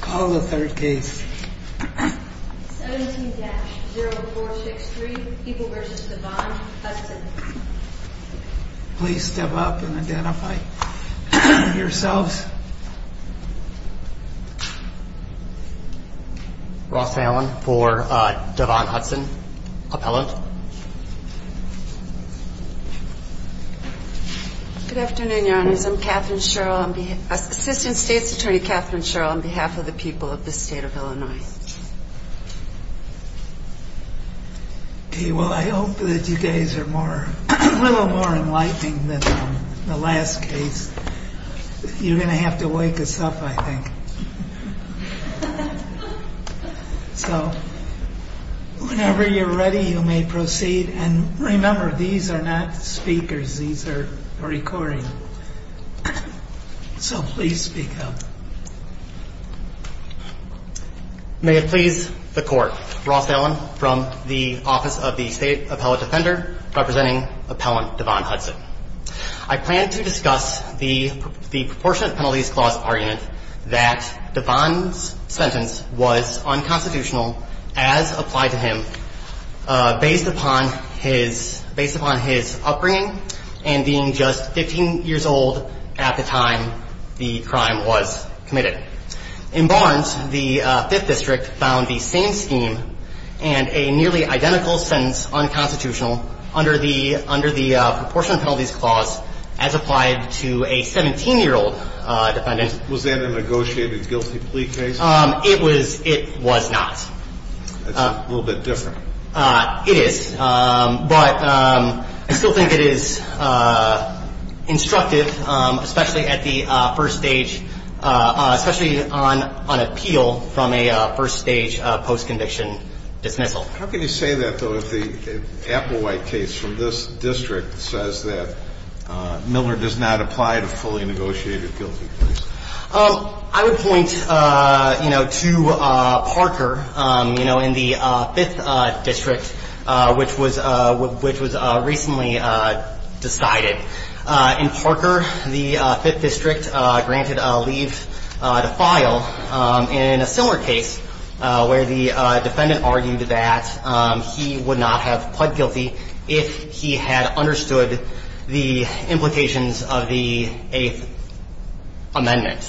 Call the third case. 17-0463 People v. Devon Hudson. Please step up and identify yourselves. Ross Allen for Devon Hudson, appellant. Good afternoon, Your Honors. I'm Katherine Sherrill on behalf of the people of the state of Illinois. I hope that you guys are a little more enlightening than the last case. You're going to have to wake us up, I think. So whenever you're ready, you may proceed. And remember, these are not speakers. These are recording. So please speak up. May it please the Court. Ross Allen from the Office of the State Appellate Defender, representing Appellant Devon Hudson. I plan to discuss the proportionate penalties clause argument that Devon's sentence was unconstitutional as applied to him based upon his upbringing and being just 15 years old at the time the crime was committed. In Barnes, the Fifth District found the same scheme and a nearly identical sentence unconstitutional under the proportionate penalties clause as applied to a 17-year-old defendant. Was that a negotiated guilty plea case? It was not. That's a little bit different. It is. But I still think it is instructive, especially on appeal from a first-stage post-conviction dismissal. How can you say that, though, if the Applewhite case from this district says that Miller does not apply to fully negotiated guilty pleas? I would point to Parker in the Fifth District, which was recently decided. In Parker, the Fifth District granted a leave to file in a similar case where the defendant argued that he would not have pled guilty if he had understood the implications of the Eighth Amendment.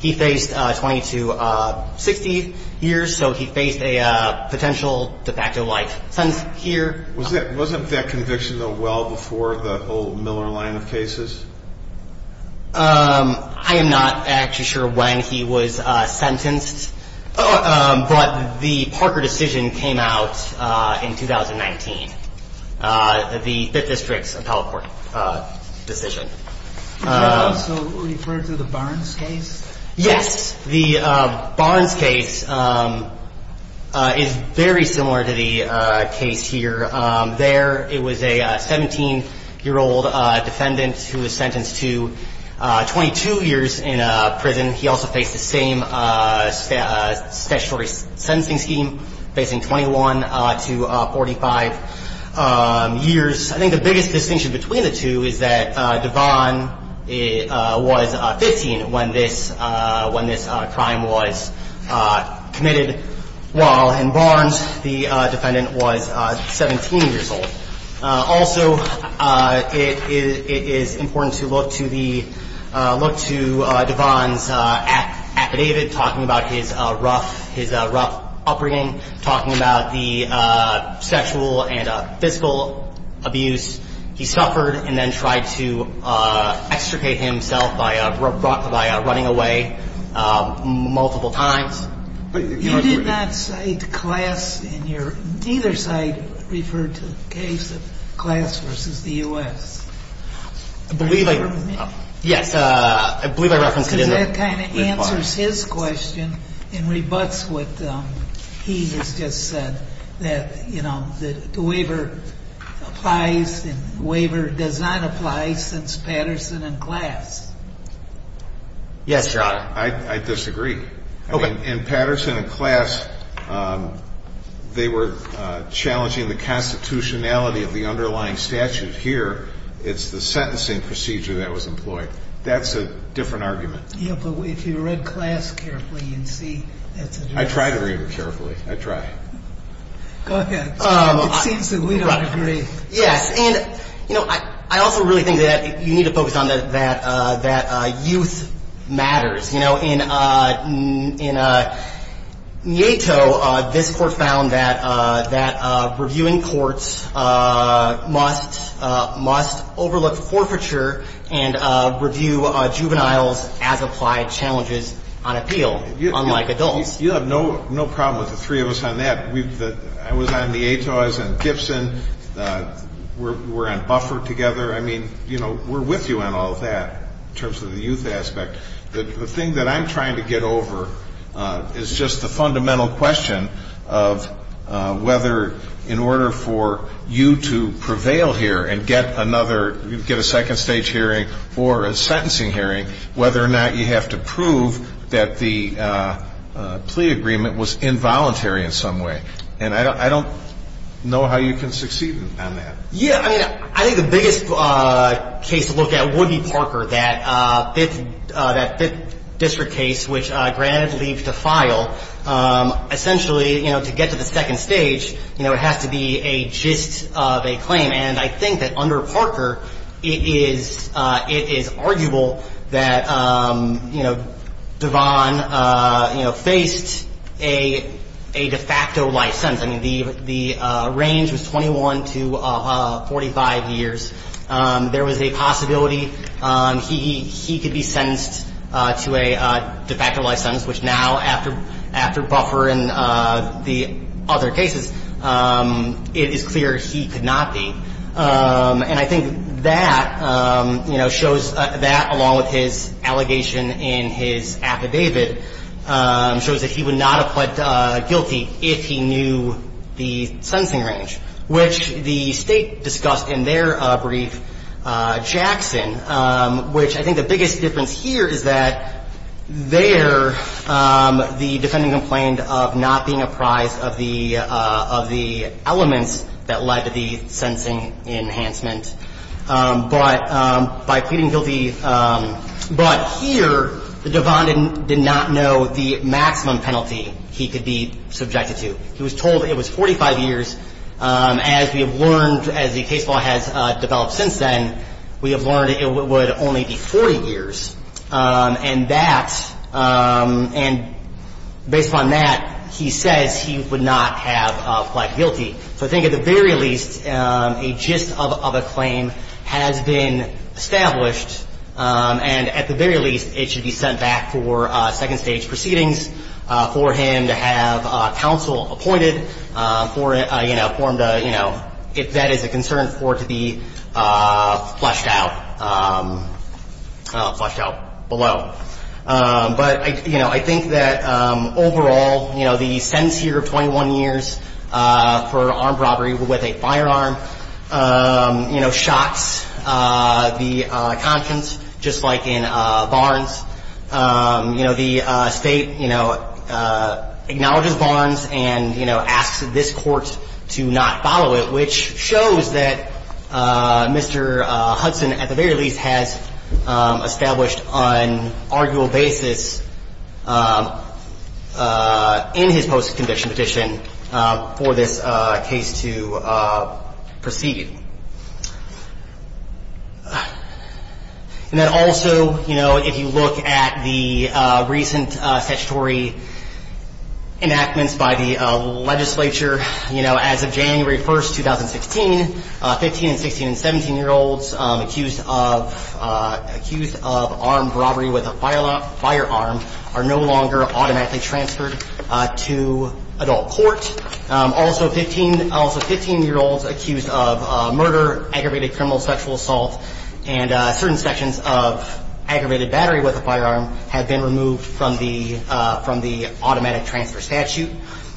He faced 20 to 60 years, so he faced a potential de facto life. Wasn't that conviction, though, well before the whole Miller line of cases? I am not actually sure when he was sentenced, but the Parker decision came out in 2019, the Fifth District's appellate court decision. Does that also refer to the Barnes case? Yes. The Barnes case is very similar to the case here. There, it was a 17-year-old defendant who was sentenced to 22 years in prison. He also faced the same statutory sentencing scheme, facing 21 to 45 years. I think the biggest distinction between the two is that Devon was 15 when this crime was committed, while in Barnes, the defendant was 17 years old. Also, it is important to look to the – look to Devon's affidavit talking about his rough – his rough upbringing, talking about the sexual and physical abuse he suffered, and then tried to extricate himself by running away multiple times. You did not cite class in your – neither side referred to the case of class versus the U.S. I believe I – yes, I believe I referenced it in the report. Because that kind of answers his question and rebuts what he has just said, that, you know, the waiver applies and the waiver does not apply since Patterson and class. Yes, Your Honor. I disagree. Okay. In Patterson and class, they were challenging the constitutionality of the underlying statute. Here, it's the sentencing procedure that was employed. That's a different argument. Yeah, but if you read class carefully, you'd see that's a different argument. I try to read it carefully. I try. Go ahead. It seems that we don't agree. Yes. And, you know, I also really think that you need to focus on that youth matters. You know, in Nieto, this Court found that reviewing courts must overlook forfeiture and review juveniles as applied challenges on appeal, unlike adults. You have no problem with the three of us on that. I was on Nieto's and Gibson. We're on buffer together. I mean, you know, we're with you on all of that in terms of the youth aspect. The thing that I'm trying to get over is just the fundamental question of whether in order for you to prevail here and get another, get a second-stage hearing or a sentencing hearing, whether or not you have to prove that the plea agreement was involuntary in some way. And I don't know how you can succeed on that. Yeah. I mean, I think the biggest case to look at would be Parker, that fifth district case, which granted leave to file. Essentially, you know, to get to the second stage, you know, it has to be a gist of a claim. And I think that under Parker, it is arguable that, you know, Devon, you know, faced a de facto life sentence. I mean, the range was 21 to 45 years. There was a possibility he could be sentenced to a de facto life sentence, which now after buffer and the other cases, it is clear he could not be. And I think that, you know, shows that along with his allegation in his affidavit shows that he would not have pled guilty if he knew the sentencing range, which the State discussed in their brief, Jackson, which I think the biggest difference here is that there, the defendant complained of not being apprised of the elements that led to the sentencing enhancement. But by pleading guilty, but here, Devon did not know the maximum penalty he could be subjected to. He was told it was 45 years. As we have learned, as the case law has developed since then, we have learned it would only be 40 years. And that, and based on that, he says he would not have pled guilty. So I think at the very least, a gist of a claim has been established. And at the very least, it should be sent back for second stage proceedings for him to have counsel appointed for him to, you know, if that is a concern for it to be flushed out, flushed out below. But, you know, I think that overall, you know, the sentence here of 21 years for armed robbery with a firearm, you know, shocks the conscience, just like in Barnes. You know, the State, you know, acknowledges Barnes and, you know, asks this Court to not follow it, which shows that Mr. Hudson, at the very least, has established on arguable basis in his post-conviction petition for this case to proceed. And then also, you know, if you look at the recent statutory enactments by the legislature, you know, as of January 1st, 2016, 15- and 16- and 17-year-olds accused of armed robbery with a firearm are no longer automatically transferred to adult court. Also 15-year-olds accused of murder, aggravated criminal sexual assault, and certain sections of aggravated battery with a firearm have been removed from the automatic transfer statute.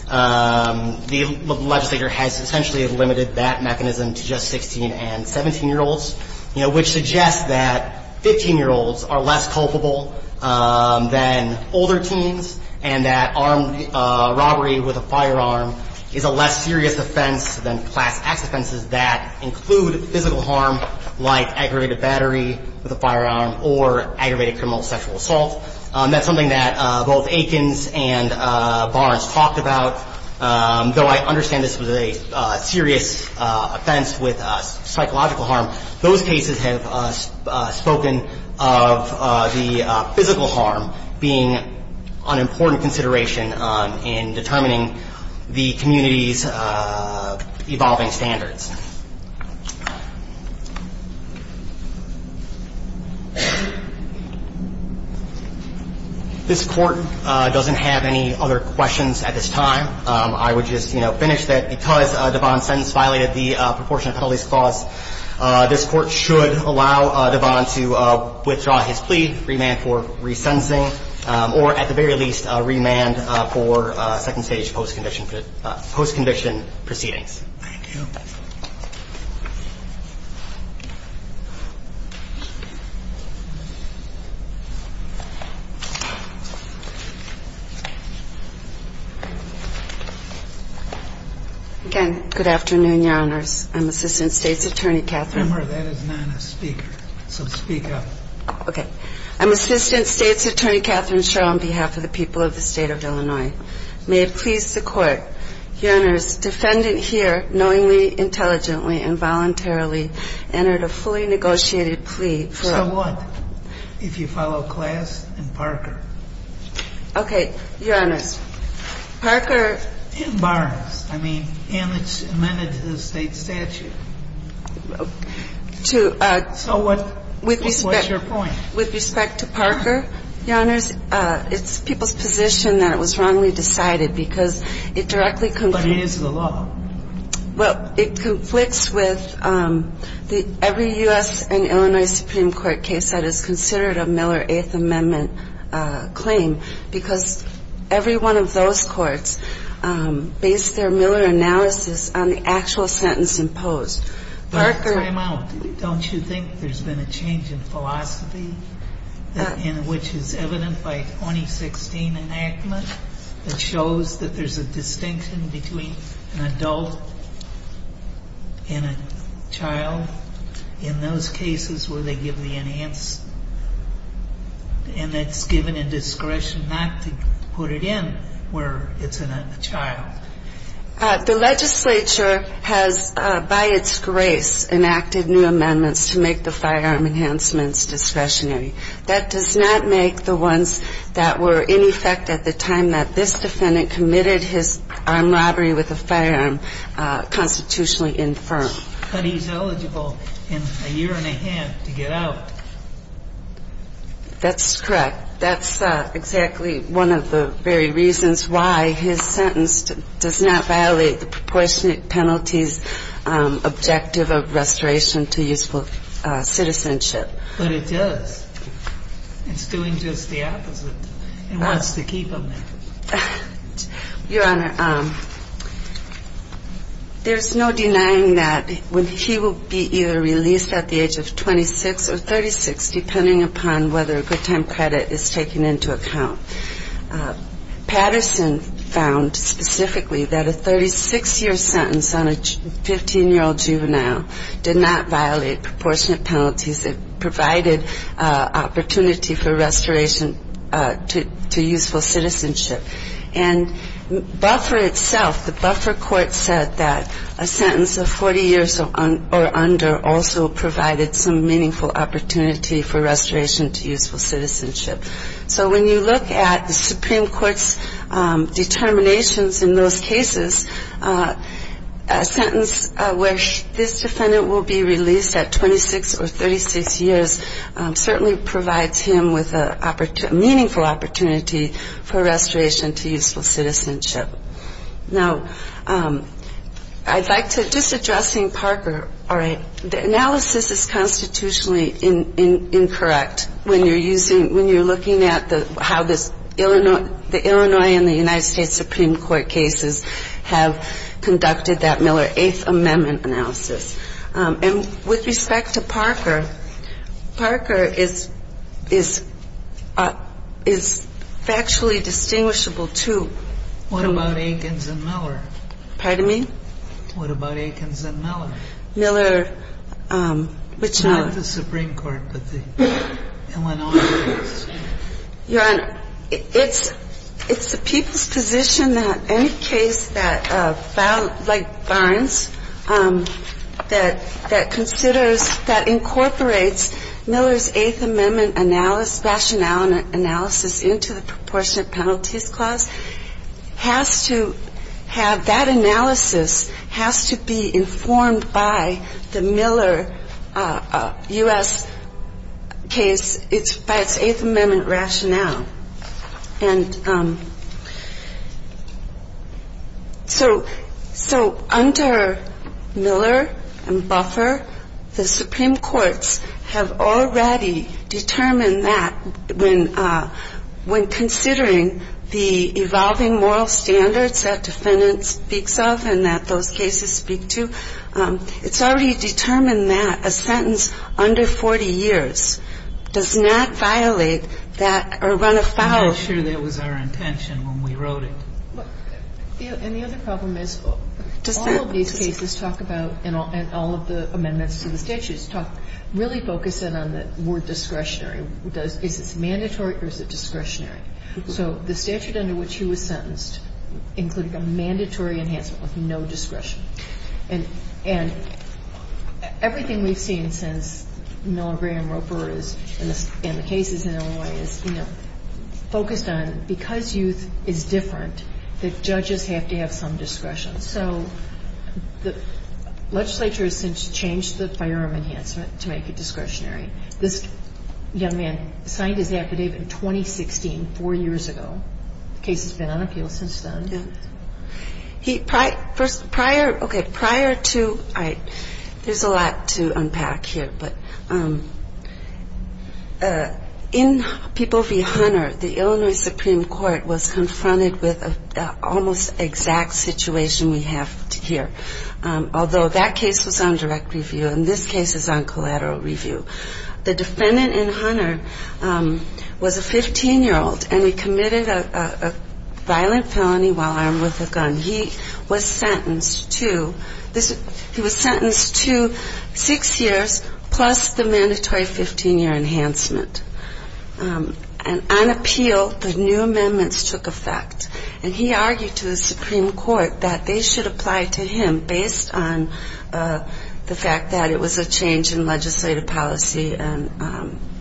The legislature has essentially limited that mechanism to just 16- and 17-year-olds, you know, serious offense than class-acts offenses that include physical harm like aggravated battery with a firearm or aggravated criminal sexual assault. That's something that both Aikens and Barnes talked about. Though I understand this was a serious offense with psychological harm, those cases have spoken of the physical harm being an important consideration in determining the community's evolving standards. This Court doesn't have any other questions at this time. I would just, you know, finish that because Devon's sentence violated the proportionate penalties clause, this Court should allow Devon to withdraw his plea, remand for resentencing, or at the very least, remand for second-stage post-conviction proceedings. Thank you. Again, good afternoon, Your Honors. I'm Assistant State's Attorney Katherine Schro. Remember, that is not a speaker, so speak up. Okay. I'm Assistant State's Attorney Katherine Schro on behalf of the people of the State of Illinois. May it please the Court, Your Honors, defendant here knowingly, intelligently, and voluntarily entered a fully negotiated plea for a ---- So what if you follow class and Parker? Okay. Your Honors, Parker ---- And Barnes. I mean, and it's amended to the State statute. To ---- So what's your point? With respect to Parker, Your Honors, it's people's position that it was wrongly decided because it directly ---- But it is the law. Well, it conflicts with every U.S. and Illinois Supreme Court case that is considered a Miller Eighth Amendment claim because every one of those courts based their Miller analysis on the actual sentence imposed. Parker ---- And which is evident by 2016 enactment that shows that there's a distinction between an adult and a child in those cases where they give the enhanced and that's given a discretion not to put it in where it's a child. The legislature has by its grace enacted new amendments to make the firearm enhancements discretionary. That does not make the ones that were in effect at the time that this defendant committed his armed robbery with a firearm constitutionally infirm. But he's eligible in a year and a half to get out. That's correct. That's exactly one of the very reasons why his sentence does not violate the proportionate penalties objective of restoration to useful citizenship. But it does. It's doing just the opposite. It wants to keep him there. Your Honor, there's no denying that he will be either released at the age of 26 or 36 depending upon whether a good time credit is taken into account. Patterson found specifically that a 36-year sentence on a 15-year-old juvenile did not violate proportionate penalties. It provided opportunity for restoration to useful citizenship. And Buffer itself, the Buffer court said that a sentence of 40 years or under also provided some meaningful opportunity for restoration to useful citizenship. So when you look at the Supreme Court's determinations in those cases, a sentence where this defendant will be released at 26 or 36 years certainly provides him with a meaningful opportunity for restoration to useful citizenship. Now, I'd like to just addressing Parker. All right. The analysis is constitutionally incorrect when you're looking at how the Illinois and the United States Supreme Court cases have conducted that Miller Eighth Amendment analysis. And with respect to Parker, Parker is factually distinguishable, too. What about Akins and Miller? Pardon me? What about Akins and Miller? Miller, which one? It's not the Supreme Court, but the Illinois case. Your Honor, it's the people's position that any case that, like Barnes, that considers that incorporates Miller's Eighth Amendment analysis, rationale analysis into the proportionate penalties clause has to have that analysis, has to be informed by the Miller U.S. case, it's by its Eighth Amendment rationale. And so under Miller and Buffer, the Supreme Courts have already determined that when considering the evolving moral standards that defendant speaks of and that those cases speak to, it's already determined that a sentence under 40 years does not violate that or run afoul. I'm not sure that was our intention when we wrote it. And the other problem is all of these cases talk about, and all of the amendments to the statutes, really focus in on the word discretionary. Is this mandatory or is it discretionary? So the statute under which he was sentenced included a mandatory enhancement with no discretion. And everything we've seen since Miller, Gray, and Roper and the cases in Illinois is, you know, focused on because youth is different that judges have to have some discretion. So the legislature has since changed the firearm enhancement to make it discretionary. This young man signed his affidavit in 2016, four years ago. The case has been on appeal since then. Prior to ‑‑ there's a lot to unpack here, but in People v. Hunter, the Illinois Supreme Court was confronted with an almost exact situation we have here, although that case was on direct review and this case is on collateral review. The defendant in Hunter was a 15‑year‑old and he committed a violent felony while armed with a gun. He was sentenced to six years plus the mandatory 15‑year enhancement. And on appeal, the new amendments took effect. And he argued to the Supreme Court that they should apply to him based on the fact that it was a change in legislative policy and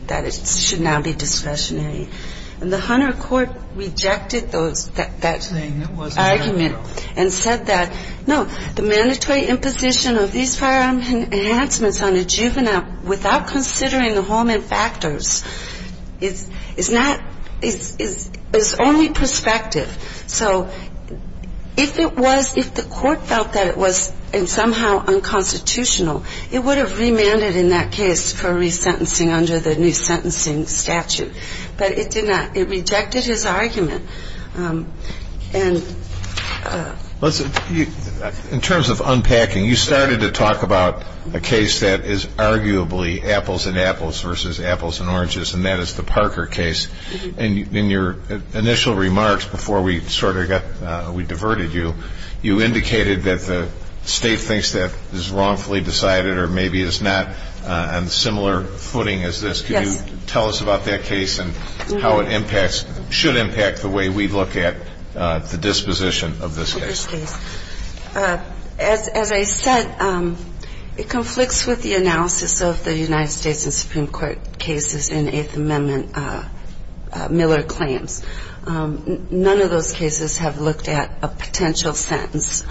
that it should now be discretionary. And the Hunter court rejected that argument and said that, no, the mandatory imposition of these firearm enhancements on a juvenile without considering the Holman factors is only prospective. So if it was ‑‑ if the court felt that it was somehow unconstitutional, it would have remanded in that case for resentencing under the new sentencing statute. But it did not. It rejected his argument. And ‑‑ In terms of unpacking, you started to talk about a case that is arguably apples and apples versus apples and oranges, and that is the Parker case. And in your initial remarks before we sort of got ‑‑ we diverted you, you indicated that the state thinks that is wrongfully decided or maybe is not on similar footing as this. Yes. Can you tell us about that case and how it impacts ‑‑ should impact the way we look at the disposition of this case? Of this case. As I said, it conflicts with the analysis of the United States and Supreme Court cases in Eighth Amendment Miller claims. None of those cases have looked at a potential sentence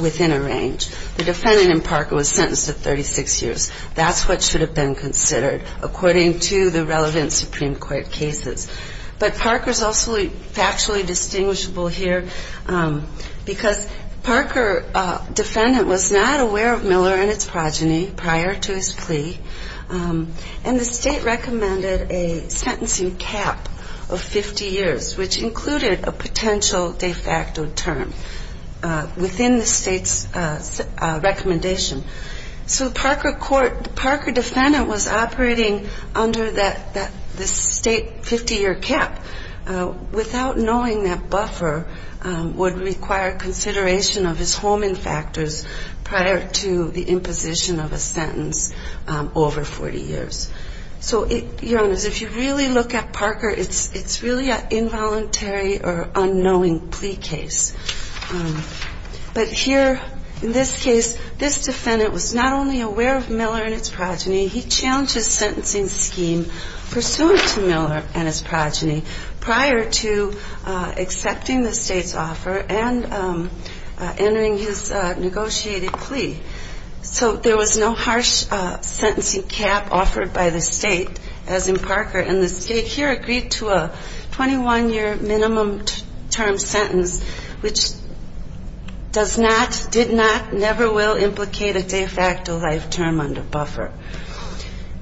within a range. The defendant in Parker was sentenced to 36 years. That's what should have been considered according to the relevant Supreme Court cases. But Parker is also factually distinguishable here because Parker defendant was not aware of Miller and its progeny prior to his plea, and the state recommended a sentencing cap of 50 years, which included a potential de facto term within the state's recommendation. So the Parker defendant was operating under the state 50‑year cap without knowing that buffer would require consideration of his homing factors prior to the imposition of a sentence over 40 years. So, Your Honors, if you really look at Parker, it's really an involuntary or unknowing plea case. But here in this case, this defendant was not only aware of Miller and its progeny, he challenged his sentencing scheme pursuant to Miller and his progeny prior to accepting the state's offer and entering his negotiated plea. So there was no harsh sentencing cap offered by the state, as in Parker, and the state here agreed to a 21‑year minimum term sentence, which does not, did not, never will implicate a de facto life term under buffer.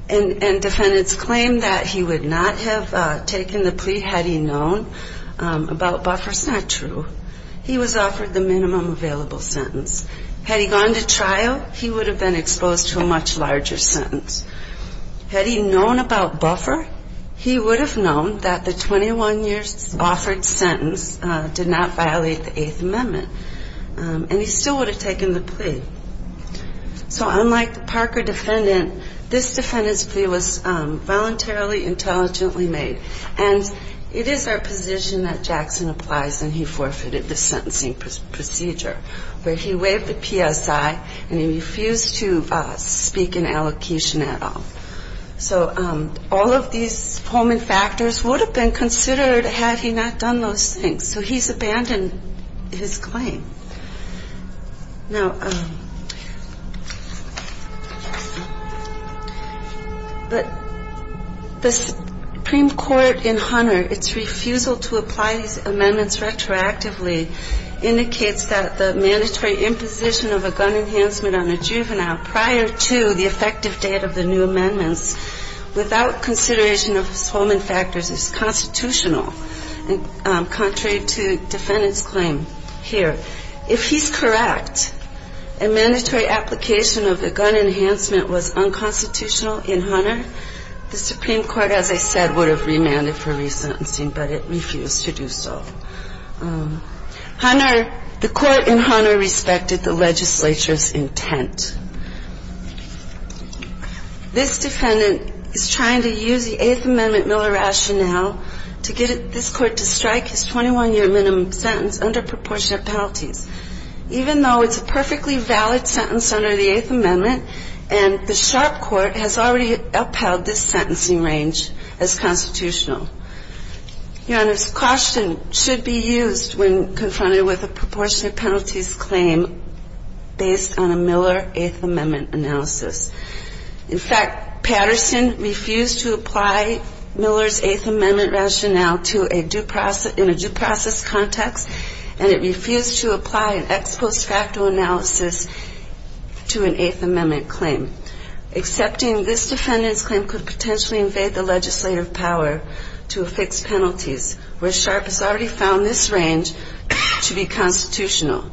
And defendants claimed that he would not have taken the plea had he known about buffer. It's not true. He was offered the minimum available sentence. Had he gone to trial, he would have been exposed to a much larger sentence. Had he known about buffer, he would have known that the 21 years offered sentence did not violate the Eighth Amendment, and he still would have taken the plea. So unlike the Parker defendant, this defendant's plea was voluntarily intelligently made. And it is our position that Jackson applies and he forfeited the sentencing procedure, where he waived the PSI and he refused to speak in allocation at all. So all of these foment factors would have been considered had he not done those things. So he's abandoned his claim. Now, the Supreme Court in Hunter, its refusal to apply these amendments retroactively, indicates that the mandatory imposition of a gun enhancement on a juvenile prior to the effective date of the new amendments, without consideration of foment factors, is constitutional, contrary to defendants' claim here. If he's correct, a mandatory application of a gun enhancement was unconstitutional in Hunter, the Supreme Court, as I said, would have remanded for resentencing, but it refused to do so. Hunter, the Court in Hunter respected the legislature's intent. This defendant is trying to use the Eighth Amendment Miller rationale to get this Court to strike his 21-year minimum sentence under proportionate penalties, even though it's a perfectly valid sentence under the Eighth Amendment and the sharp court has already upheld this sentencing range as constitutional. Your Honor's caution should be used when confronted with a proportionate penalties claim based on a Miller Eighth Amendment analysis. In fact, Patterson refused to apply Miller's Eighth Amendment rationale in a due process context, and it refused to apply an ex post facto analysis to an Eighth Amendment claim. Accepting this defendant's claim could potentially invade the legislative power to affix penalties, where sharp has already found this range to be constitutional.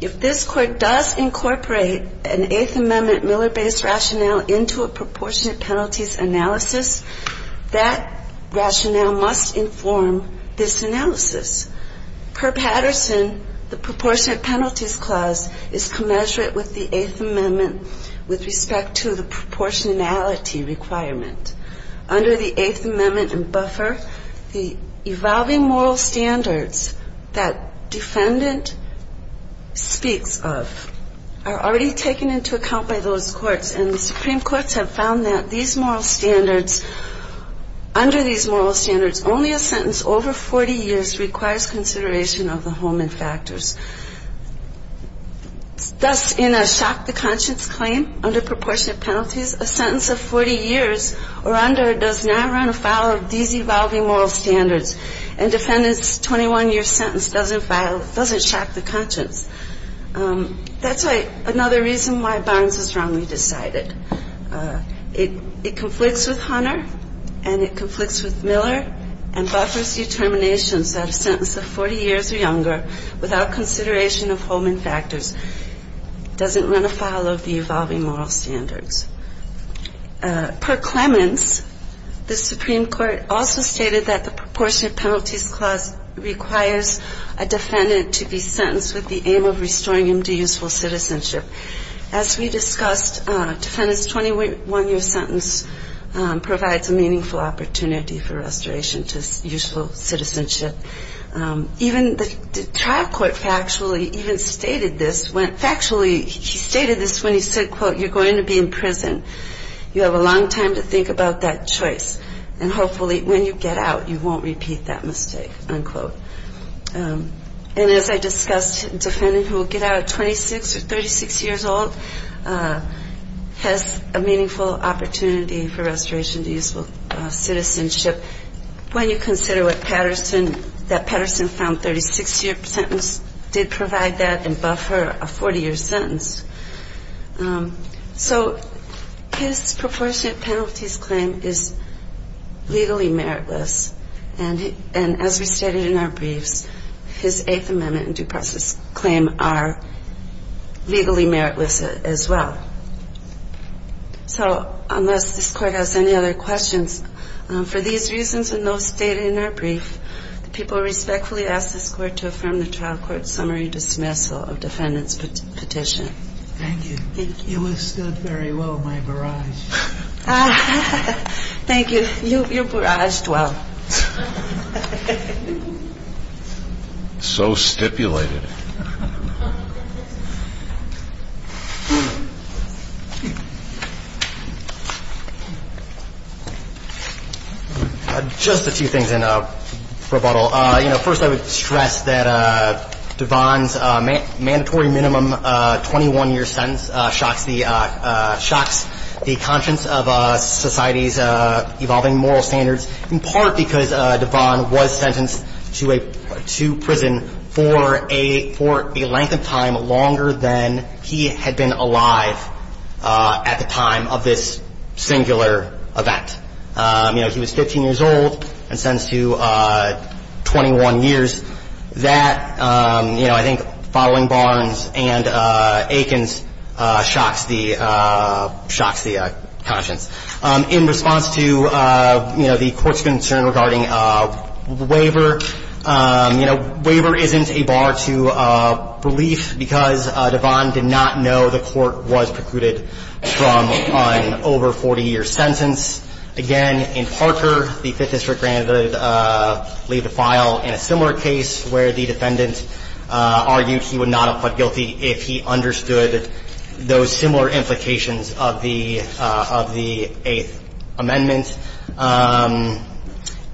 If this Court does incorporate an Eighth Amendment Miller-based rationale into a proportionate penalties analysis, that rationale must inform this analysis. Per Patterson, the proportionate penalties clause is commensurate with the Eighth Amendment with respect to the proportionality requirement. Under the Eighth Amendment and buffer, the evolving moral standards that defendant speaks of are already taken into account by those courts, and the Supreme Courts have found that these moral standards, under these moral standards, only a sentence over 40 years requires consideration of the Holman factors. Thus, in a shock-to-conscience claim under proportionate penalties, a sentence of 40 years or under does not run afoul of these evolving moral standards, and defendant's 21-year sentence doesn't shock the conscience. That's another reason why Barnes is wrongly decided. It conflicts with Hunter, and it conflicts with Miller, and it doesn't run afoul of the evolving moral standards. Per Clemens, the Supreme Court also stated that the proportionate penalties clause requires a defendant to be sentenced with the aim of restoring him to useful citizenship. As we discussed, defendant's 21-year sentence provides a meaningful opportunity for restoration to useful citizenship. Even the trial court factually even stated this when he said, quote, you're going to be in prison. You have a long time to think about that choice, and hopefully when you get out, you won't repeat that mistake, unquote. And as I discussed, defendant who will get out at 26 or 36 years old has a meaningful opportunity for restoration to useful citizenship. When you consider what Patterson, that Patterson found 36-year sentence did provide that and buffer a 40-year sentence. So his proportionate penalties claim is legally meritless, and as we stated in our briefs, his Eighth Amendment and due process claim are legally meritless as well. So unless this court has any other questions, for these reasons and those stated in our brief, the people respectfully ask this court to affirm the trial court summary dismissal of defendant's petition. Thank you. You withstood very well my barrage. Thank you. Just a few things in rebuttal. First I would stress that Devon's mandatory minimum 21-year sentence shocks the conscience of society's evolving moral standards, in part because Devon was sentenced to prison for a length of time longer than he had been alive. At the time of this singular event. You know, he was 15 years old and sentenced to 21 years. That, you know, I think following Barnes and Aikens shocks the conscience. In response to, you know, the court's concern regarding waiver, you know, waiver isn't a bar to relief because Devon did not know the court was precluding a waiver. I do believe that Devon's minimum 21-year sentence should be excluded from an over 40-year sentence. Again, in Parker, the Fifth District granted leave to file in a similar case where the defendant argued he would not have pled guilty if he understood those similar implications of the Eighth Amendment.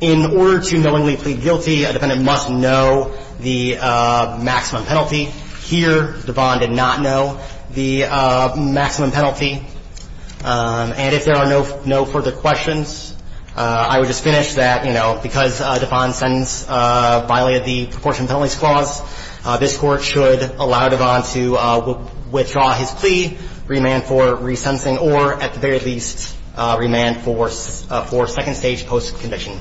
In order to knowingly plead guilty, a defendant must know the maximum penalty. Here, Devon did not know the maximum penalty. And if there are no further questions, I would just finish that, you know, because Devon's sentence violated the proportion penalties clause, this Court should allow Devon to withdraw his plea, remand for resentencing, or, at the very least, remand for sentencing. Thank you.